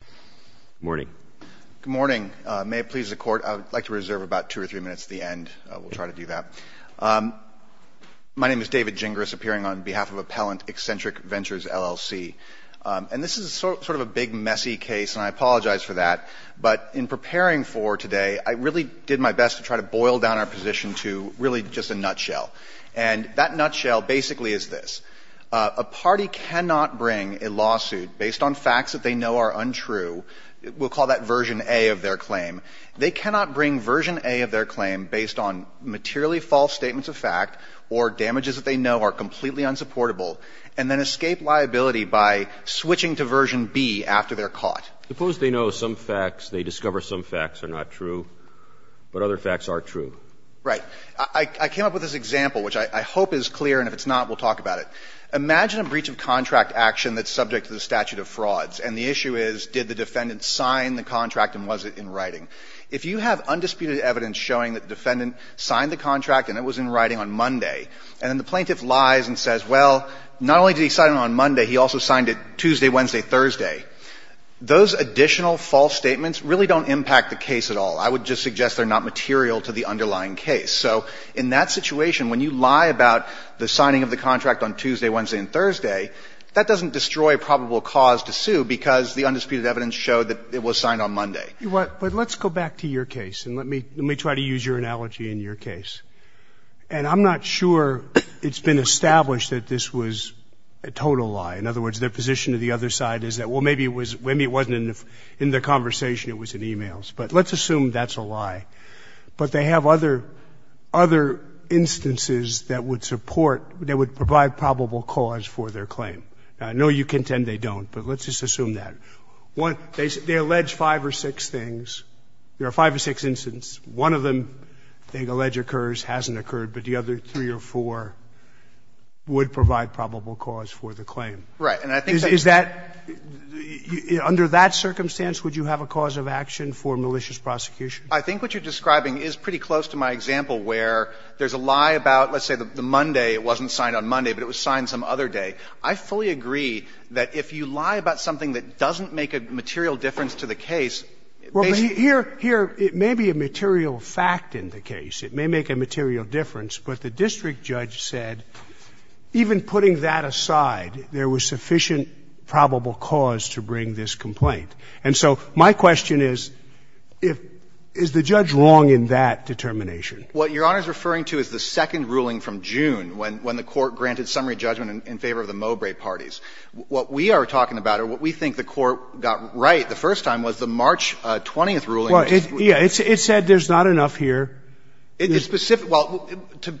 Good morning. Good morning. May it please the Court, I would like to reserve about two or three minutes at the end. We'll try to do that. My name is David Gingras, appearing on behalf of Appellant Eccentric Ventures, LLC. And this is sort of a big, messy case, and I apologize for that. But in preparing for today, I really did my best to try to boil down our position to really just a nutshell. And that nutshell basically is this. A party cannot bring a lawsuit based on facts that they know are untrue. We'll call that version A of their claim. They cannot bring version A of their claim based on materially false statements of fact or damages that they know are completely unsupportable and then escape liability by switching to version B after they're caught. Suppose they know some facts, they discover some facts are not true, but other facts are true. Right. I came up with this example, which I hope is clear, and if it's not, we'll talk about it. Imagine a breach of contract action that's subject to the statute of frauds, and the issue is did the defendant sign the contract and was it in writing. If you have undisputed evidence showing that the defendant signed the contract and it was in writing on Monday and then the plaintiff lies and says, well, not only did he sign it on Monday, he also signed it Tuesday, Wednesday, Thursday, those additional false statements really don't impact the case at all. I would just suggest they're not material to the underlying case. So in that situation, when you lie about the signing of the contract on Tuesday, Wednesday, and Thursday, that doesn't destroy probable cause to sue because the undisputed evidence showed that it was signed on Monday. But let's go back to your case, and let me try to use your analogy in your case. And I'm not sure it's been established that this was a total lie. In other words, their position to the other side is that, well, maybe it wasn't in the conversation, it was in e-mails. But let's assume that's a lie. But they have other instances that would support, that would provide probable cause for their claim. Now, I know you contend they don't, but let's just assume that. They allege five or six things. There are five or six instances. One of them they allege occurs, hasn't occurred. But the other three or four would provide probable cause for the claim. Under that circumstance, would you have a cause of action for malicious prosecution? I think what you're describing is pretty close to my example where there's a lie about, let's say, the Monday. It wasn't signed on Monday, but it was signed some other day. I fully agree that if you lie about something that doesn't make a material difference to the case, it may be a material fact in the case. It may make a material difference. But the district judge said even putting that aside, there was sufficient probable cause to bring this complaint. And so my question is, is the judge wrong in that determination? What Your Honor is referring to is the second ruling from June when the Court granted summary judgment in favor of the Mowbray parties. What we are talking about or what we think the Court got right the first time was the March 20th ruling. Well, yeah. It said there's not enough here. It's specific. Well, to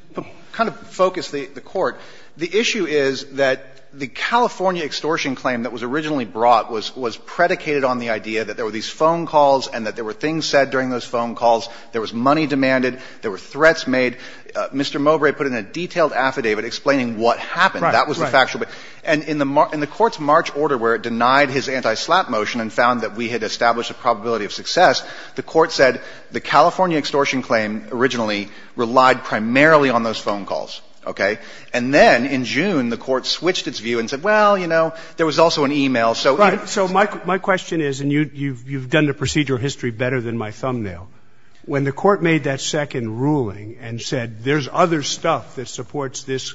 kind of focus the Court, the issue is that the California extortion claim that was originally brought was predicated on the idea that there were these phone calls and that there were things said during those phone calls. There was money demanded. There were threats made. Mr. Mowbray put in a detailed affidavit explaining what happened. Right. That was the factual. And in the Court's March order where it denied his anti-slap motion and found that we had established a probability of success, the Court said the California extortion claim originally relied primarily on those phone calls. Okay? And then in June, the Court switched its view and said, well, you know, there was also an e-mail. So even if it's the same thing. Right. So my question is, and you've done the procedural history better than my thumbnail, when the Court made that second ruling and said there's other stuff that supports this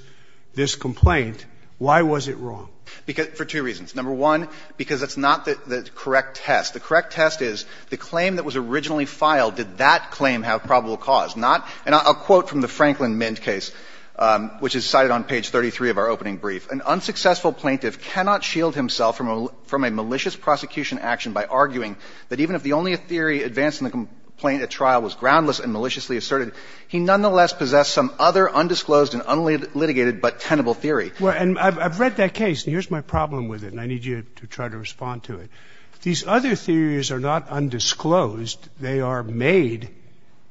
complaint, why was it wrong? For two reasons. Number one, because it's not the correct test. The correct test is the claim that was originally filed, did that claim have probable cause? If not, and I'll quote from the Franklin Mint case, which is cited on page 33 of our opening brief. An unsuccessful plaintiff cannot shield himself from a malicious prosecution action by arguing that even if the only theory advanced in the complaint at trial was groundless and maliciously asserted, he nonetheless possessed some other undisclosed and unlitigated but tenable theory. Well, and I've read that case. And here's my problem with it. And I need you to try to respond to it. These other theories are not undisclosed. They are made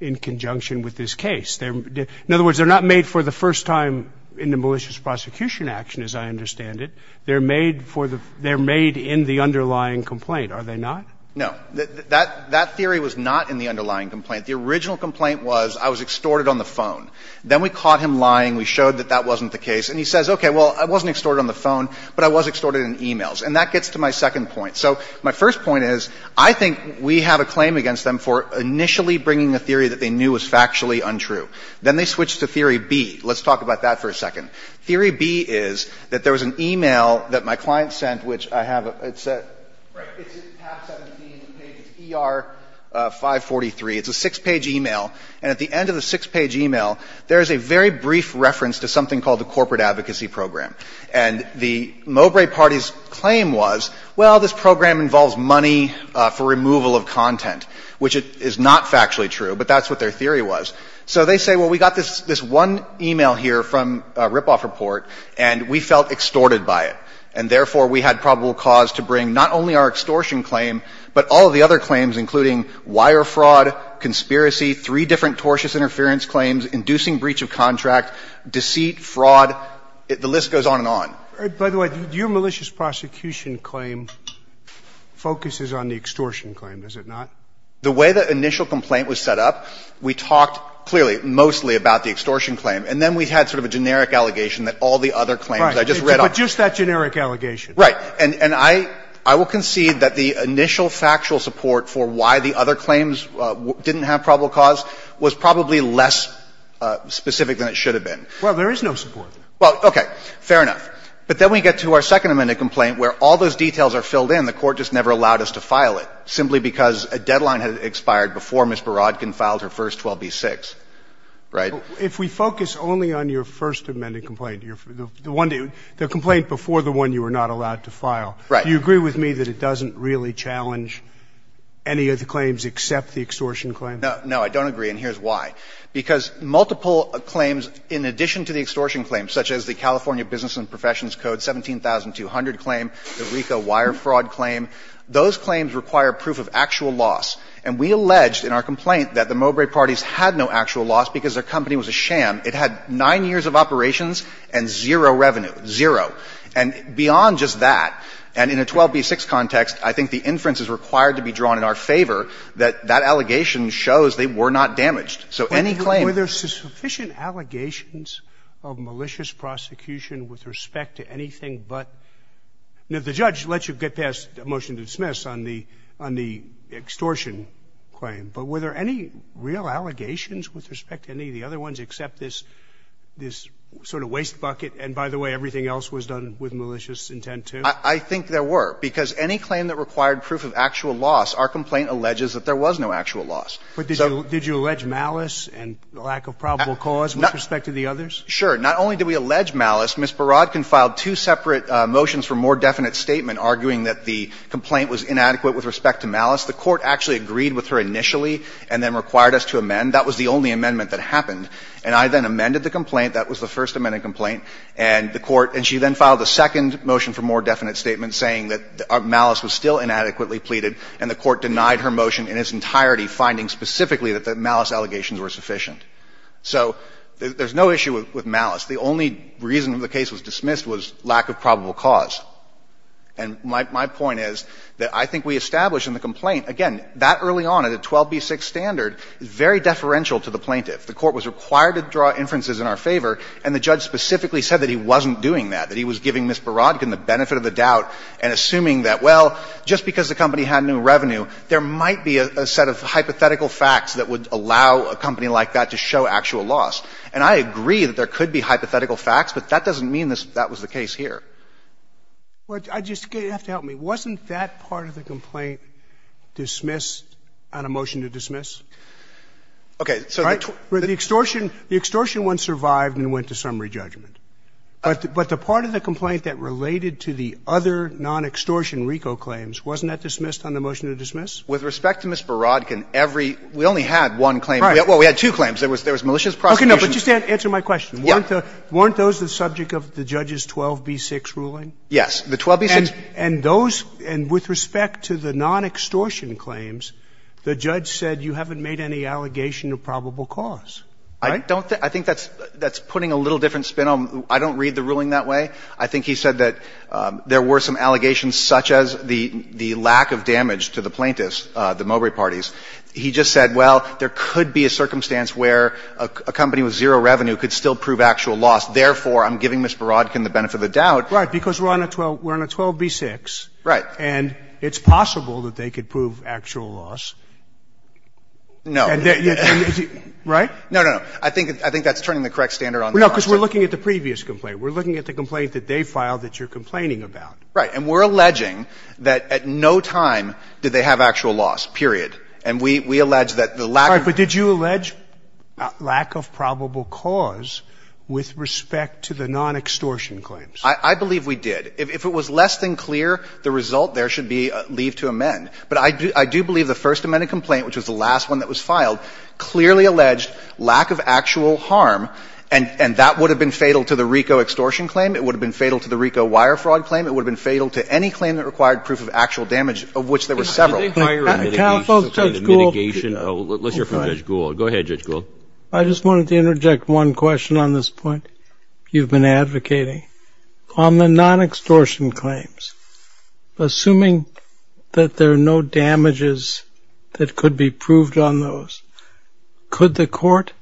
in conjunction with this case. In other words, they're not made for the first time in the malicious prosecution action, as I understand it. They're made for the — they're made in the underlying complaint, are they not? No. That theory was not in the underlying complaint. The original complaint was I was extorted on the phone. Then we caught him lying. We showed that that wasn't the case. And he says, okay, well, I wasn't extorted on the phone, but I was extorted in emails. And that gets to my second point. So my first point is I think we have a claim against them for initially bringing a theory that they knew was factually untrue. Then they switched to theory B. Let's talk about that for a second. Theory B is that there was an email that my client sent, which I have a — it's a — Right. It's half 17. It's ER543. It's a six-page email. And at the end of the six-page email, there is a very brief reference to something called the Corporate Advocacy Program. And the Mowbray Party's claim was, well, this program involves money for removal of content, which is not factually true, but that's what their theory was. So they say, well, we got this one email here from a ripoff report, and we felt extorted by it. And therefore, we had probable cause to bring not only our extortion claim, but all of the other claims, including wire fraud, conspiracy, three different tortious interference claims, inducing breach of contract, deceit, fraud. The list goes on and on. By the way, your malicious prosecution claim focuses on the extortion claim, does it not? The way the initial complaint was set up, we talked clearly mostly about the extortion claim. And then we had sort of a generic allegation that all the other claims I just read off. Right. But just that generic allegation. Right. And I will concede that the initial factual support for why the other claims didn't have probable cause was probably less specific than it should have been. Well, there is no support. Well, okay. Fair enough. But then we get to our second amended complaint where all those details are filled in. The Court just never allowed us to file it, simply because a deadline had expired before Ms. Borodkin filed her first 12b-6. Right? If we focus only on your first amended complaint, the one to the complaint before the one you were not allowed to file, do you agree with me that it doesn't really challenge any of the claims except the extortion claim? No, I don't agree. And here's why. Because multiple claims, in addition to the extortion claims, such as the California Business and Professions Code 17200 claim, the RICO wire fraud claim, those claims require proof of actual loss. And we alleged in our complaint that the Mowbray parties had no actual loss because their company was a sham. It had 9 years of operations and zero revenue. Zero. And beyond just that, and in a 12b-6 context, I think the inference is required to be drawn in our favor that that allegation shows they were not damaged. So any claim that they were not damaged. Were there sufficient allegations of malicious prosecution with respect to anything but the judge lets you get past a motion to dismiss on the extortion claim, but were there any real allegations with respect to any of the other ones except this sort of waste bucket? And by the way, everything else was done with malicious intent, too? I think there were. Because any claim that required proof of actual loss, our complaint alleges that there was no actual loss. But did you allege malice and lack of probable cause with respect to the others? Sure. Not only did we allege malice, Ms. Baradkin filed two separate motions for more definite statement arguing that the complaint was inadequate with respect to malice. The Court actually agreed with her initially and then required us to amend. That was the only amendment that happened. And I then amended the complaint. That was the first amended complaint. And the Court – and she then filed a second motion for more definite statement saying that malice was still inadequately pleaded, and the Court denied her motion in its entirety, finding specifically that the malice allegations were sufficient. So there's no issue with malice. The only reason the case was dismissed was lack of probable cause. And my point is that I think we established in the complaint, again, that early on at a 12b6 standard is very deferential to the plaintiff. The Court was required to draw inferences in our favor, and the judge specifically said that he wasn't doing that, that he was giving Ms. Baradkin the benefit of the doubt and assuming that, well, just because the company had new revenue, there might be a set of hypothetical facts that would allow a company like that to show actual loss. And I agree that there could be hypothetical facts, but that doesn't mean that was the case here. Roberts. I just – you have to help me. Wasn't that part of the complaint dismissed on a motion to dismiss? Okay. So the extortion – the extortion one survived and went to summary judgment. But the part of the complaint that related to the other non-extortion RICO claims, wasn't that dismissed on the motion to dismiss? With respect to Ms. Baradkin, every – we only had one claim. Well, we had two claims. There was malicious prosecution. Okay, no, but just answer my question. Yeah. Weren't those the subject of the judge's 12b6 ruling? Yes, the 12b6. And those – and with respect to the non-extortion claims, the judge said you haven't made any allegation of probable cause, right? I don't think – I think that's putting a little different spin on – I don't read the ruling that way. I think he said that there were some allegations such as the lack of damage to the plaintiffs, the Mowbray parties. He just said, well, there could be a circumstance where a company with zero revenue could still prove actual loss. Therefore, I'm giving Ms. Baradkin the benefit of the doubt. Right. Because we're on a 12 – we're on a 12b6. Right. And it's possible that they could prove actual loss. No. Right? No, no, no. I think – I think that's turning the correct standard on their part. No, because we're looking at the previous complaint. We're looking at the complaint that they filed that you're complaining about. Right. And we're alleging that at no time did they have actual loss, period. And we – we allege that the lack of – All right. But did you allege lack of probable cause with respect to the non-extortion claims? I believe we did. If it was less than clear, the result there should be leave to amend. But I do – I do believe the First Amendment complaint, which was the last one that was filed, clearly alleged lack of actual harm, and – and that would have been fatal to the RICO extortion claim. It would have been fatal to the RICO wire fraud claim. It would have been fatal to any claim that required proof of actual damage, of which there were several. Did they fire – Counsel, Judge Gould –– the mitigation – let's hear from Judge Gould. Go ahead, Judge Gould. I just wanted to interject one question on this point you've been advocating. On the non-extortion claims, assuming that there are no damages that could be proved on those, could the court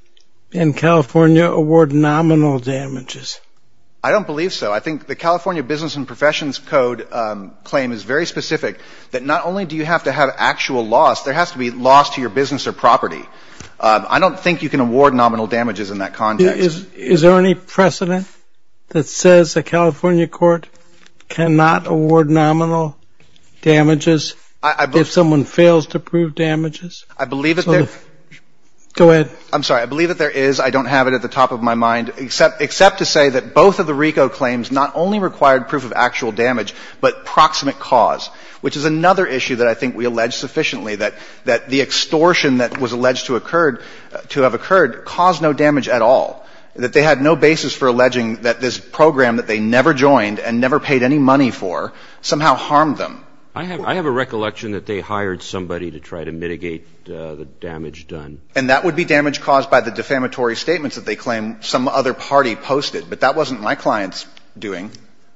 in California award nominal damages? I don't believe so. I think the California Business and Professions Code claim is very specific, that not only do you have to have actual loss, there has to be loss to your business or property. I don't think you can award nominal damages in that context. Is there any precedent that says the California court cannot award nominal damages if someone fails to prove damages? I believe that there – Go ahead. I'm sorry. I believe that there is. I don't have it at the top of my mind, except – except to say that both of the claims have not only required proof of actual damage, but proximate cause, which is another issue that I think we allege sufficiently, that – that the extortion that was alleged to occurred – to have occurred caused no damage at all, that they had no basis for alleging that this program that they never joined and never paid any money for somehow harmed them. I have – I have a recollection that they hired somebody to try to mitigate the damage done. And that would be damage caused by the defamatory statements that they claim some other party posted. But that wasn't my client's doing.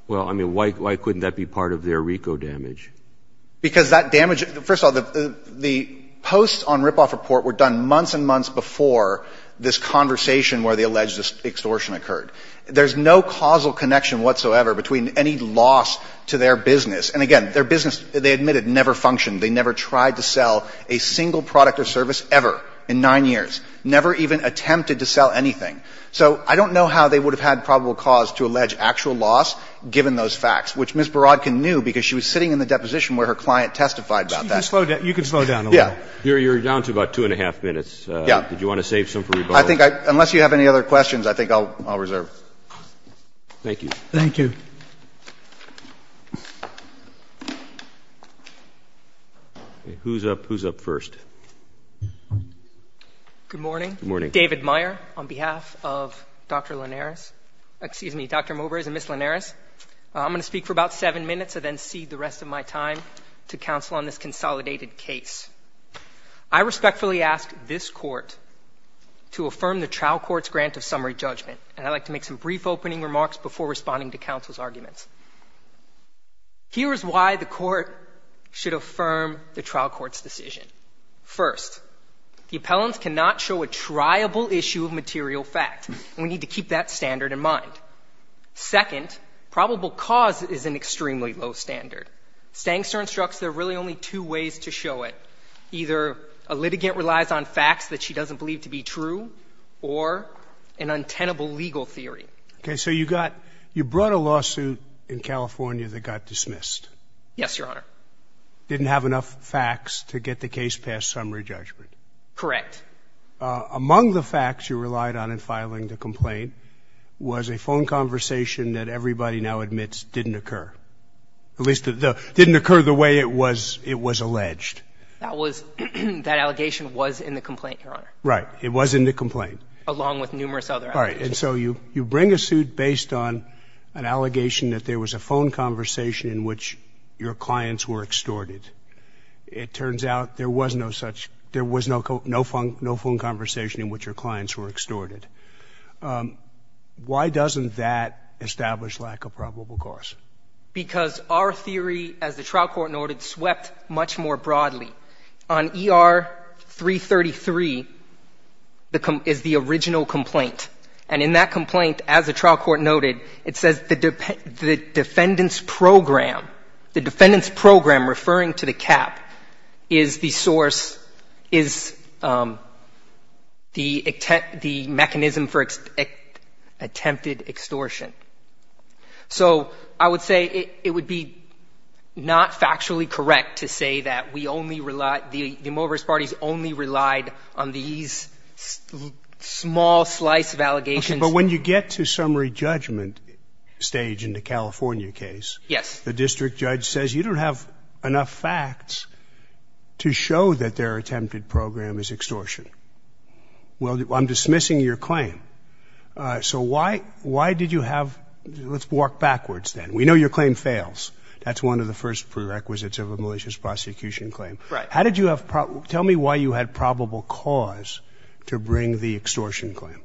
Well, I mean, why – why couldn't that be part of their RICO damage? Because that damage – first of all, the – the posts on ripoff report were done months and months before this conversation where they alleged this extortion occurred. There's no causal connection whatsoever between any loss to their business. And again, their business, they admitted, never functioned. They never tried to sell a single product or service ever in nine years. Never even attempted to sell anything. So I don't know how they would have had probable cause to allege actual loss given those facts, which Ms. Borodkin knew because she was sitting in the deposition where her client testified about that. You can slow down a little. Yeah. You're down to about two and a half minutes. Yeah. Did you want to save some for rebuttal? I think I – unless you have any other questions, I think I'll reserve. Thank you. Thank you. Okay. Who's up? Who's up first? Good morning. Good morning. I'm David Meyer on behalf of Dr. Linares. Excuse me, Dr. Movers and Ms. Linares. I'm going to speak for about seven minutes and then cede the rest of my time to counsel on this consolidated case. I respectfully ask this Court to affirm the trial court's grant of summary judgment. And I'd like to make some brief opening remarks before responding to counsel's arguments. Here is why the Court should affirm the trial court's decision. First, the appellants cannot show a triable issue of material fact. We need to keep that standard in mind. Second, probable cause is an extremely low standard. Stangster instructs there are really only two ways to show it. Either a litigant relies on facts that she doesn't believe to be true or an untenable legal theory. Okay. So you got – you brought a lawsuit in California that got dismissed. Yes, Your Honor. And the plaintiff didn't have enough facts to get the case past summary judgment. Correct. Among the facts you relied on in filing the complaint was a phone conversation that everybody now admits didn't occur, at least didn't occur the way it was alleged. That was – that allegation was in the complaint, Your Honor. Right. It was in the complaint. Along with numerous other allegations. All right. And so you bring a suit based on an allegation that there was a phone conversation in which your clients were extorted. It turns out there was no such – there was no phone conversation in which your clients were extorted. Why doesn't that establish lack of probable cause? Because our theory, as the trial court noted, swept much more broadly. On ER-333 is the original complaint. And in that complaint, as the trial court noted, it says the defendant's program, the defendant's program, referring to the cap, is the source – is the mechanism for attempted extortion. So I would say it would be not factually correct to say that we only relied – small slice of allegations. Okay. But when you get to summary judgment stage in the California case. Yes. The district judge says you don't have enough facts to show that their attempted program is extortion. Well, I'm dismissing your claim. So why – why did you have – let's walk backwards then. We know your claim fails. That's one of the first prerequisites of a malicious prosecution claim. Right. How did you have – tell me why you had probable cause to bring the extortion claim.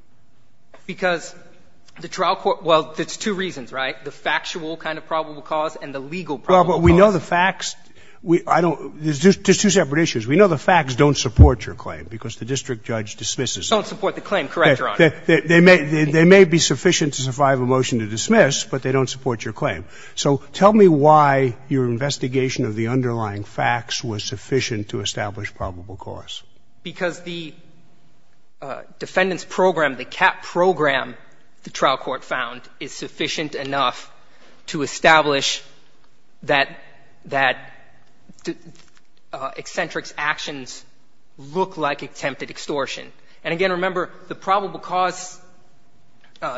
Because the trial court – well, there's two reasons, right? The factual kind of probable cause and the legal probable cause. Well, but we know the facts – I don't – there's two separate issues. We know the facts don't support your claim because the district judge dismisses them. They don't support the claim. Correct, Your Honor. They may be sufficient to survive a motion to dismiss, but they don't support your claim. So tell me why your investigation of the underlying facts was sufficient to establish probable cause. Because the defendant's program, the CAP program, the trial court found, is sufficient enough to establish that – that eccentric's actions look like attempted extortion. And again, remember, the probable cause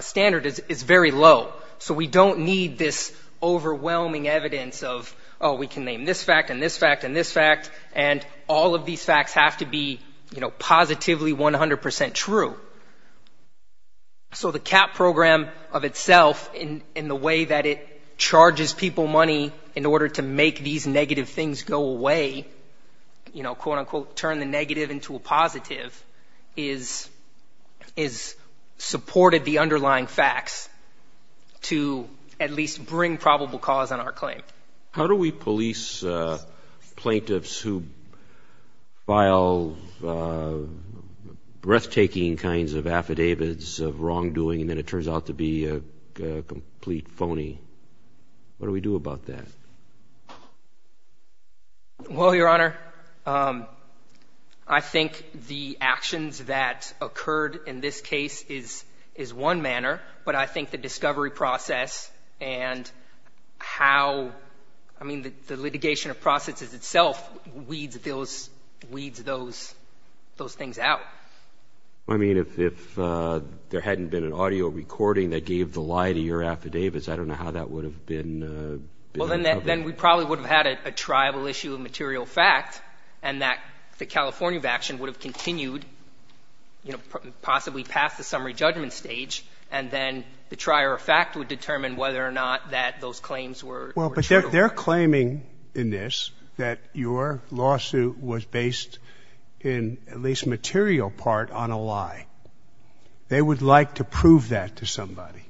standard is very low. So we don't need this overwhelming evidence of, oh, we can name this fact and this fact and this fact, and all of these facts have to be, you know, positively 100% true. So the CAP program of itself in the way that it charges people money in order to make these negative things go away, you know, quote, unquote, turn the negative into a positive, is – is – supported the underlying facts to at least bring probable cause on our claim. How do we police plaintiffs who file breathtaking kinds of affidavits of wrongdoing and then it turns out to be a complete phony? What do we do about that? Well, Your Honor, I think the actions that occurred in this case is – is one manner, but I think the discovery process and how – I mean, the litigation of processes itself weeds those – weeds those – those things out. I mean, if – if there hadn't been an audio recording that gave the lie to your affidavits, I don't know how that would have been – Well, then we probably would have had a triable issue of material fact and that the California action would have continued, you know, possibly past the summary judgment stage and then the trier of fact would determine whether or not that those claims were true. Well, but they're claiming in this that your lawsuit was based in at least material part on a lie. They would like to prove that to somebody.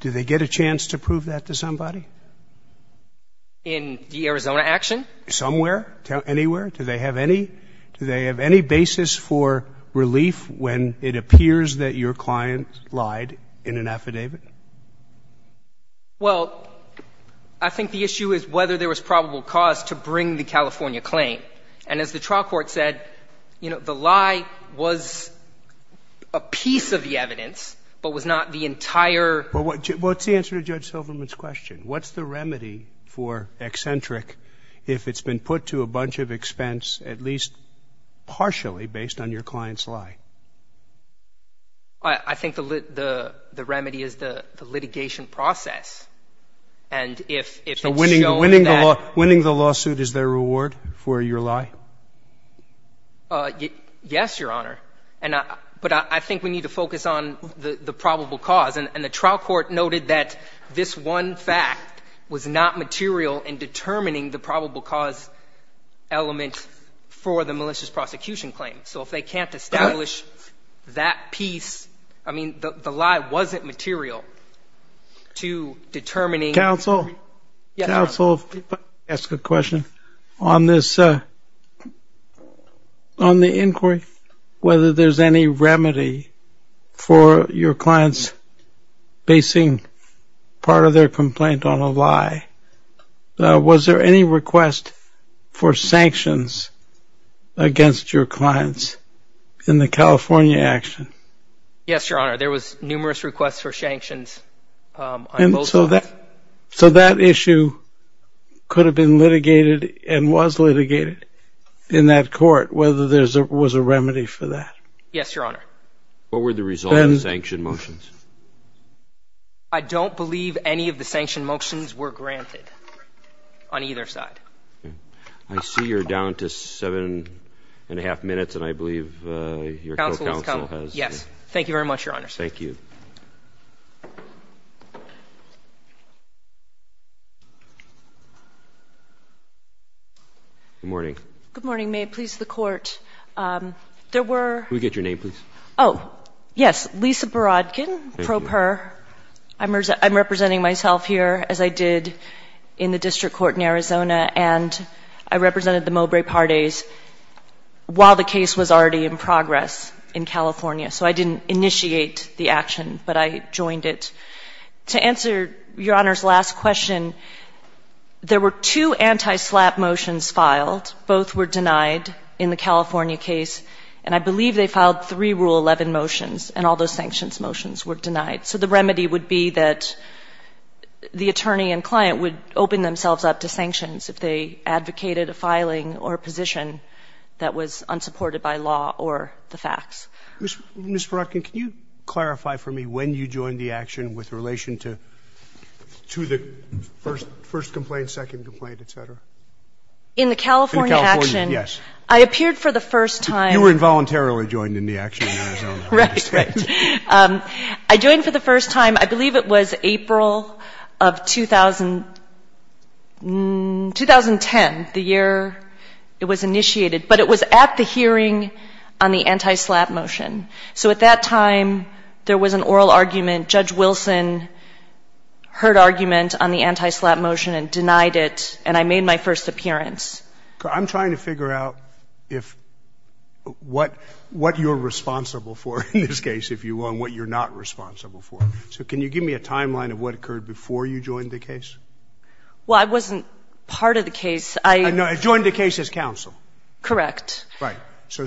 Do they get a chance to prove that to somebody? In the Arizona action? Somewhere? Anywhere? Do they have any – do they have any basis for relief when it appears that your client lied in an affidavit? Well, I think the issue is whether there was probable cause to bring the California claim. And as the trial court said, you know, the lie was a piece of the evidence but was not the entire – Well, what's the answer to Judge Silverman's question? What's the remedy for eccentric if it's been put to a bunch of expense at least partially based on your client's lie? I think the remedy is the litigation process. And if it's shown that – So winning the lawsuit is their reward for your lie? Yes, Your Honor. But I think we need to focus on the probable cause. And the trial court noted that this one fact was not material in determining the probable cause element for the malicious prosecution claim. So if they can't establish that piece, I mean, the lie wasn't material to determining – Counsel? Yes, Your Honor. Counsel, if I could ask a question. On the inquiry, whether there's any remedy for your clients basing part of their complaint on a lie, was there any request for sanctions against your clients in the California action? Yes, Your Honor. There was numerous requests for sanctions on both sides. So that issue could have been litigated and was litigated in that court, whether there was a remedy for that. Yes, Your Honor. What were the results of the sanction motions? I don't believe any of the sanction motions were granted on either side. I see you're down to seven and a half minutes, and I believe your co-counsel has – Yes. Thank you very much, Your Honor. Thank you. Good morning. Good morning. May it please the Court. There were – Can we get your name, please? Oh, yes. Lisa Barodkin, pro per. Thank you. I'm representing myself here, as I did in the district court in Arizona, and I represented the Mowbray Parties while the case was already in progress in California. So I didn't initiate the action. But I joined it. To answer Your Honor's last question, there were two anti-SLAPP motions filed. Both were denied in the California case, and I believe they filed three Rule 11 motions, and all those sanctions motions were denied. So the remedy would be that the attorney and client would open themselves up to sanctions if they advocated a filing or a position that was unsupported by law or the facts. Ms. Barodkin, can you clarify for me when you joined the action with relation to the first complaint, second complaint, et cetera? In the California action? In the California, yes. I appeared for the first time. You were involuntarily joined in the action in Arizona. Right. Right. I joined for the first time, I believe it was April of 2010, the year it was initiated. But it was at the hearing on the anti-SLAPP motion. So at that time, there was an oral argument. Judge Wilson heard argument on the anti-SLAPP motion and denied it, and I made my first appearance. I'm trying to figure out if what you're responsible for in this case, if you will, and what you're not responsible for. So can you give me a timeline of what occurred before you joined the case? Well, I wasn't part of the case. I joined the case as counsel. Correct. Right. So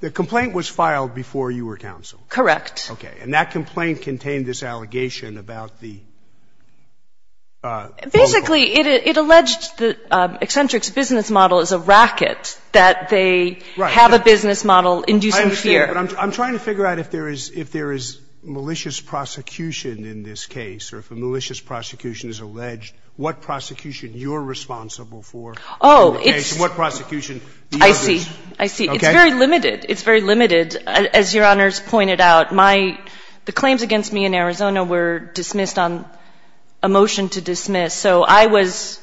the complaint was filed before you were counsel. Correct. Okay. And that complaint contained this allegation about the vulnerable. Basically, it alleged that Eccentric's business model is a racket, that they have a business model inducing fear. I understand, but I'm trying to figure out if there is malicious prosecution in this case and what prosecution the other is. I see. I see. It's very limited. It's very limited. As Your Honors pointed out, my ‑‑ the claims against me in Arizona were dismissed on a motion to dismiss. So I was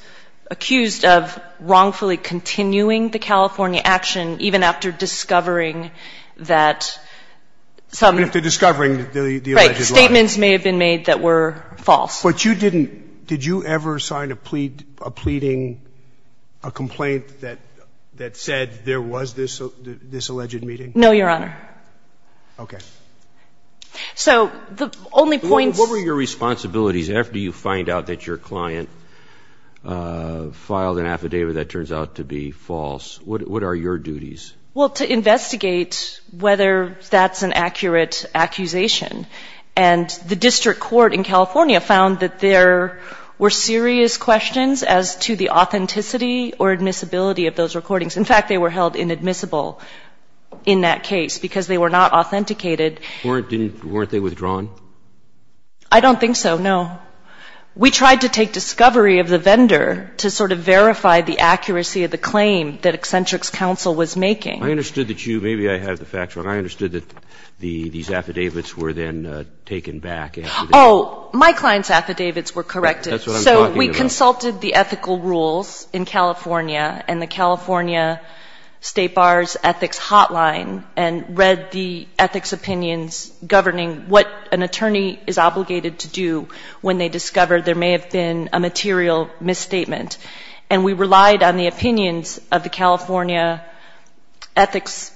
accused of wrongfully continuing the California action even after discovering that some ‑‑ Even after discovering the alleged lie. Right. Statements may have been made that were false. But you didn't ‑‑ did you ever sign a plea ‑‑ a pleading, a complaint that said there was this alleged meeting? No, Your Honor. Okay. So the only point ‑‑ What were your responsibilities after you find out that your client filed an affidavit that turns out to be false? What are your duties? Well, to investigate whether that's an accurate accusation. And the district court in California found that there were serious questions as to the authenticity or admissibility of those recordings. In fact, they were held inadmissible in that case because they were not authenticated. Weren't they withdrawn? I don't think so, no. We tried to take discovery of the vendor to sort of verify the accuracy of the claim that Eccentrics Council was making. I understood that you ‑‑ maybe I have the facts wrong. I understood that these affidavits were then taken back after the ‑‑ Oh, my client's affidavits were corrected. That's what I'm talking about. So we consulted the ethical rules in California and the California State Bar's ethics hotline and read the ethics opinions governing what an attorney is obligated to do when they discover there may have been a material misstatement. And we relied on the opinions of the California ethics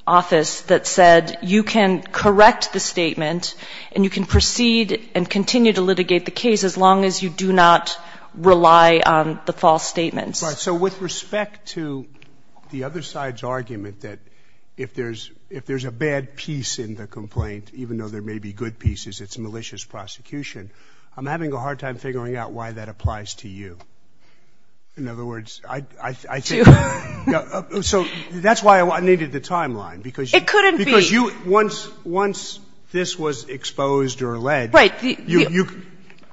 office that said you can correct the statement and you can proceed and continue to litigate the case as long as you do not rely on the false statements. Right. So with respect to the other side's argument that if there's a bad piece in the complaint, even though there may be good pieces, it's malicious prosecution, I'm having a hard time figuring out why that applies to you. In other words, I think ‑‑ To you. So that's why I needed the timeline. It couldn't be. Because you ‑‑ once this was exposed or led, you ‑‑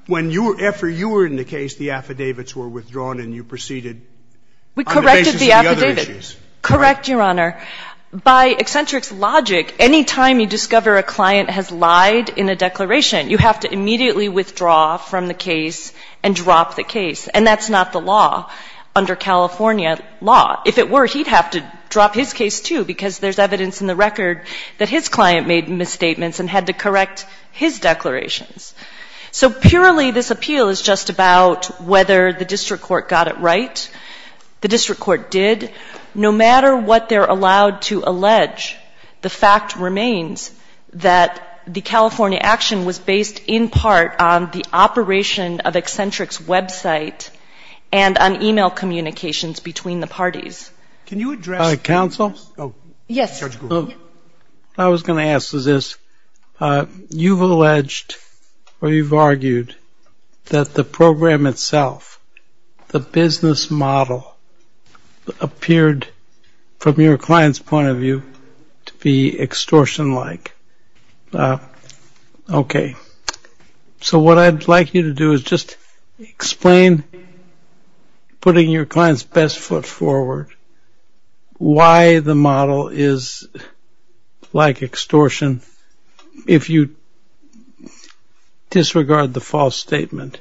Right. After you were in the case, the affidavits were withdrawn and you proceeded on the basis of the other issues. We corrected the affidavits. Correct, Your Honor. By Eccentrics logic, any time you discover a client has lied in a declaration, you have to immediately withdraw from the case and drop the case. And that's not the law under California law. If it were, he'd have to drop his case, too, because there's evidence in the record that his client made misstatements and had to correct his declarations. So purely this appeal is just about whether the district court got it right. The district court did. No matter what they're allowed to allege, the fact remains that the California action was based in part on the operation of Eccentric's website and on e-mail communications between the parties. Can you address ‑‑ Counsel? Yes. I was going to ask this. You've alleged or you've argued that the program itself, the business model, appeared, from your client's point of view, to be extortion-like. Okay. So what I'd like you to do is just explain, putting your client's best foot forward, why the model is like extortion if you disregard the false statement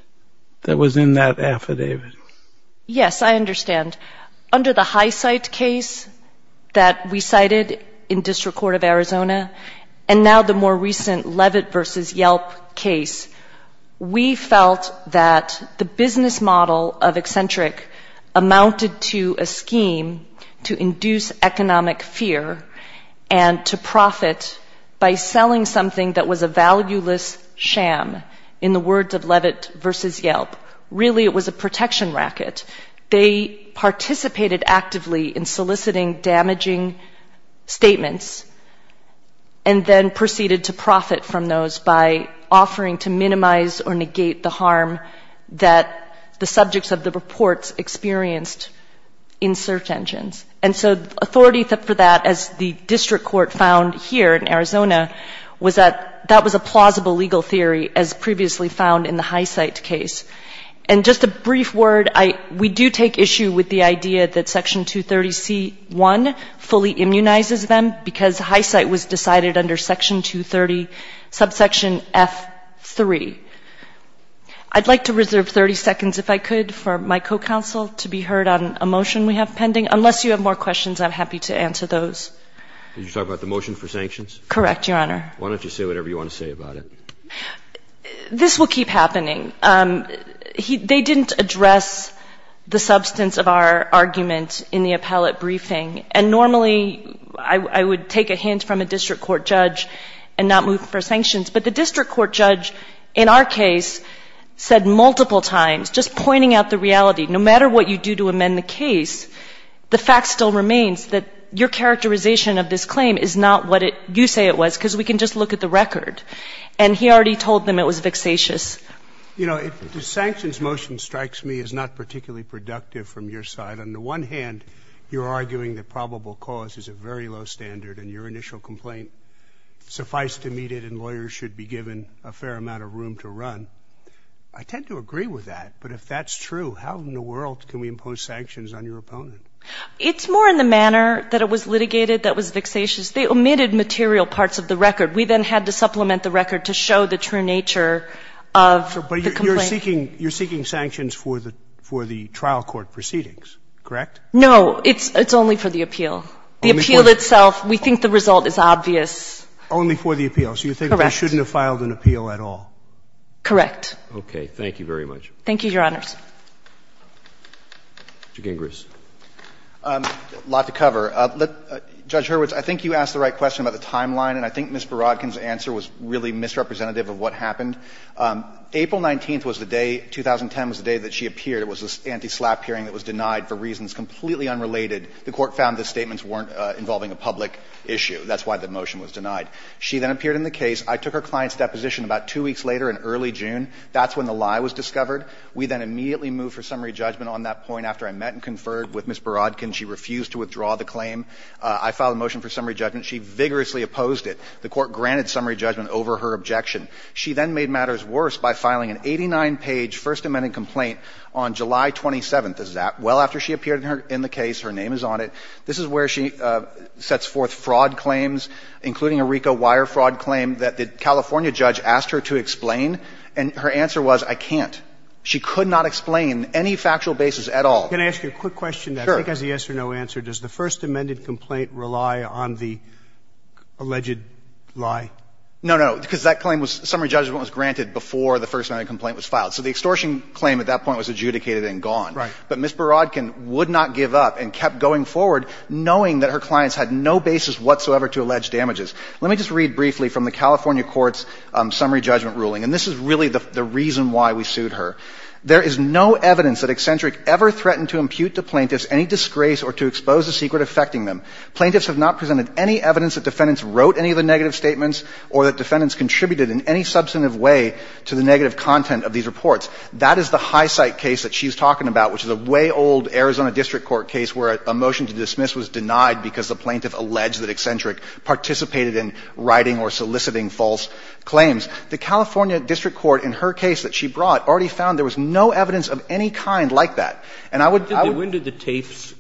that was in that affidavit. Yes, I understand. Under the High Cite case that we cited in District Court of Arizona, and now the more recent Levitt v. Yelp case, we felt that the business model of Eccentric amounted to a scheme to induce economic fear and to profit by selling something that was a valueless sham, in the words of Levitt v. Yelp. Really, it was a protection racket. They participated actively in soliciting damaging statements and then proceeded to profit from those by offering to minimize or negate the harm that the subjects of the reports experienced in search engines. And so authority for that, as the district court found here in Arizona, was that that was a plausible legal theory, as previously found in the High Cite case. And just a brief word. We do take issue with the idea that Section 230C1 fully immunizes them because High Cite was decided under Section 230, subsection F3. I'd like to reserve 30 seconds, if I could, for my co-counsel to be heard on a motion we have pending. Unless you have more questions, I'm happy to answer those. Did you talk about the motion for sanctions? Correct, Your Honor. Why don't you say whatever you want to say about it? This will keep happening. They didn't address the substance of our argument in the appellate briefing. And normally I would take a hint from a district court judge and not move for sanctions. But the district court judge in our case said multiple times, just pointing out the reality, no matter what you do to amend the case, the fact still remains that your characterization of this claim is not what you say it was because we can just look at the record. And he already told them it was vexatious. You know, if the sanctions motion strikes me as not particularly productive from your side, on the one hand, you're arguing that probable cause is a very low standard and your initial complaint, suffice to meet it and lawyers should be given a fair amount of room to run. I tend to agree with that. But if that's true, how in the world can we impose sanctions on your opponent? It's more in the manner that it was litigated that was vexatious. They omitted material parts of the record. We then had to supplement the record to show the true nature of the complaint. But you're seeking sanctions for the trial court proceedings, correct? No. It's only for the appeal. The appeal itself, we think the result is obvious. Only for the appeal. Correct. So you think they shouldn't have filed an appeal at all? Correct. Okay. Thank you very much. Thank you, Your Honors. Mr. Gingras. A lot to cover. Judge Hurwitz, I think you asked the right question about the timeline, and I think Ms. Borodkin's answer was really misrepresentative of what happened. April 19th was the day, 2010 was the day that she appeared. It was this anti-SLAPP hearing that was denied for reasons completely unrelated. The Court found the statements weren't involving a public issue. That's why the motion was denied. She then appeared in the case. I took her client's deposition about two weeks later in early June. That's when the lie was discovered. We then immediately moved for summary judgment on that point. After I met and conferred with Ms. Borodkin, she refused to withdraw the claim. I filed a motion for summary judgment. She vigorously opposed it. The Court granted summary judgment over her objection. She then made matters worse by filing an 89-page First Amendment complaint on July 27th. This is well after she appeared in the case. Her name is on it. This is where she sets forth fraud claims, including a RICO wire fraud claim that the California judge asked her to explain, and her answer was, I can't. She could not explain any factual basis at all. Can I ask you a quick question that I think has a yes or no answer? Sure. Does the First Amendment complaint rely on the alleged lie? No, no, because that claim was summary judgment was granted before the First Amendment complaint was filed. So the extortion claim at that point was adjudicated and gone. Right. But Ms. Borodkin would not give up and kept going forward, knowing that her clients had no basis whatsoever to allege damages. Let me just read briefly from the California court's summary judgment ruling, and this is really the reason why we sued her. There is no evidence that Eccentric ever threatened to impute to plaintiffs any disgrace or to expose the secret affecting them. Plaintiffs have not presented any evidence that defendants wrote any of the negative statements or that defendants contributed in any substantive way to the negative content of these reports. That is the high-side case that she's talking about, which is a way old Arizona district court case where a motion to dismiss was denied because the plaintiff alleged that Eccentric participated in writing or soliciting false claims. The California district court in her case that she brought already found there was no evidence of any kind like that. And I would, I would. When did the tapes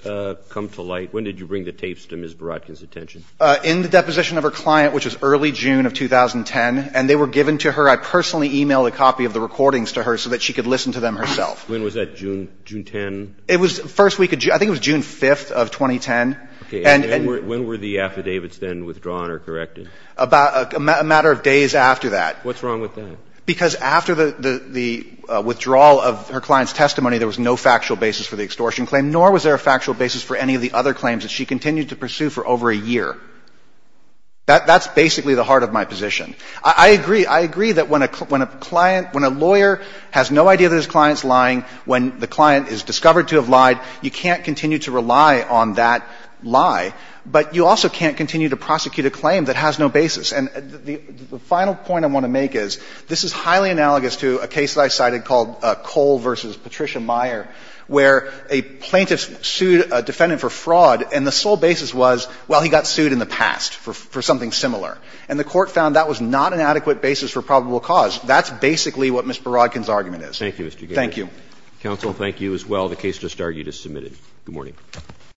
come to light? When did you bring the tapes to Ms. Borodkin's attention? In the deposition of her client, which was early June of 2010. And they were given to her. I personally emailed a copy of the recordings to her so that she could listen to them herself. When was that, June, June 10? It was the first week of June. I think it was June 5th of 2010. Okay. And when were the affidavits then withdrawn or corrected? About a matter of days after that. What's wrong with that? Because after the withdrawal of her client's testimony, there was no factual basis for the extortion claim, nor was there a factual basis for any of the other claims that she continued to pursue for over a year. That's basically the heart of my position. I agree. I agree that when a client, when a lawyer has no idea that his client is lying, when the client is discovered to have lied, you can't continue to rely on that lie. But you also can't continue to prosecute a claim that has no basis. And the final point I want to make is, this is highly analogous to a case that I cited called Cole v. Patricia Meyer, where a plaintiff sued a defendant for fraud and the sole basis was, well, he got sued in the past for something similar. And the Court found that was not an adequate basis for probable cause. That's basically what Ms. Barodkin's argument is. Thank you, Mr. Garre. Thank you. Counsel, thank you as well. The case just argued is submitted. Good morning.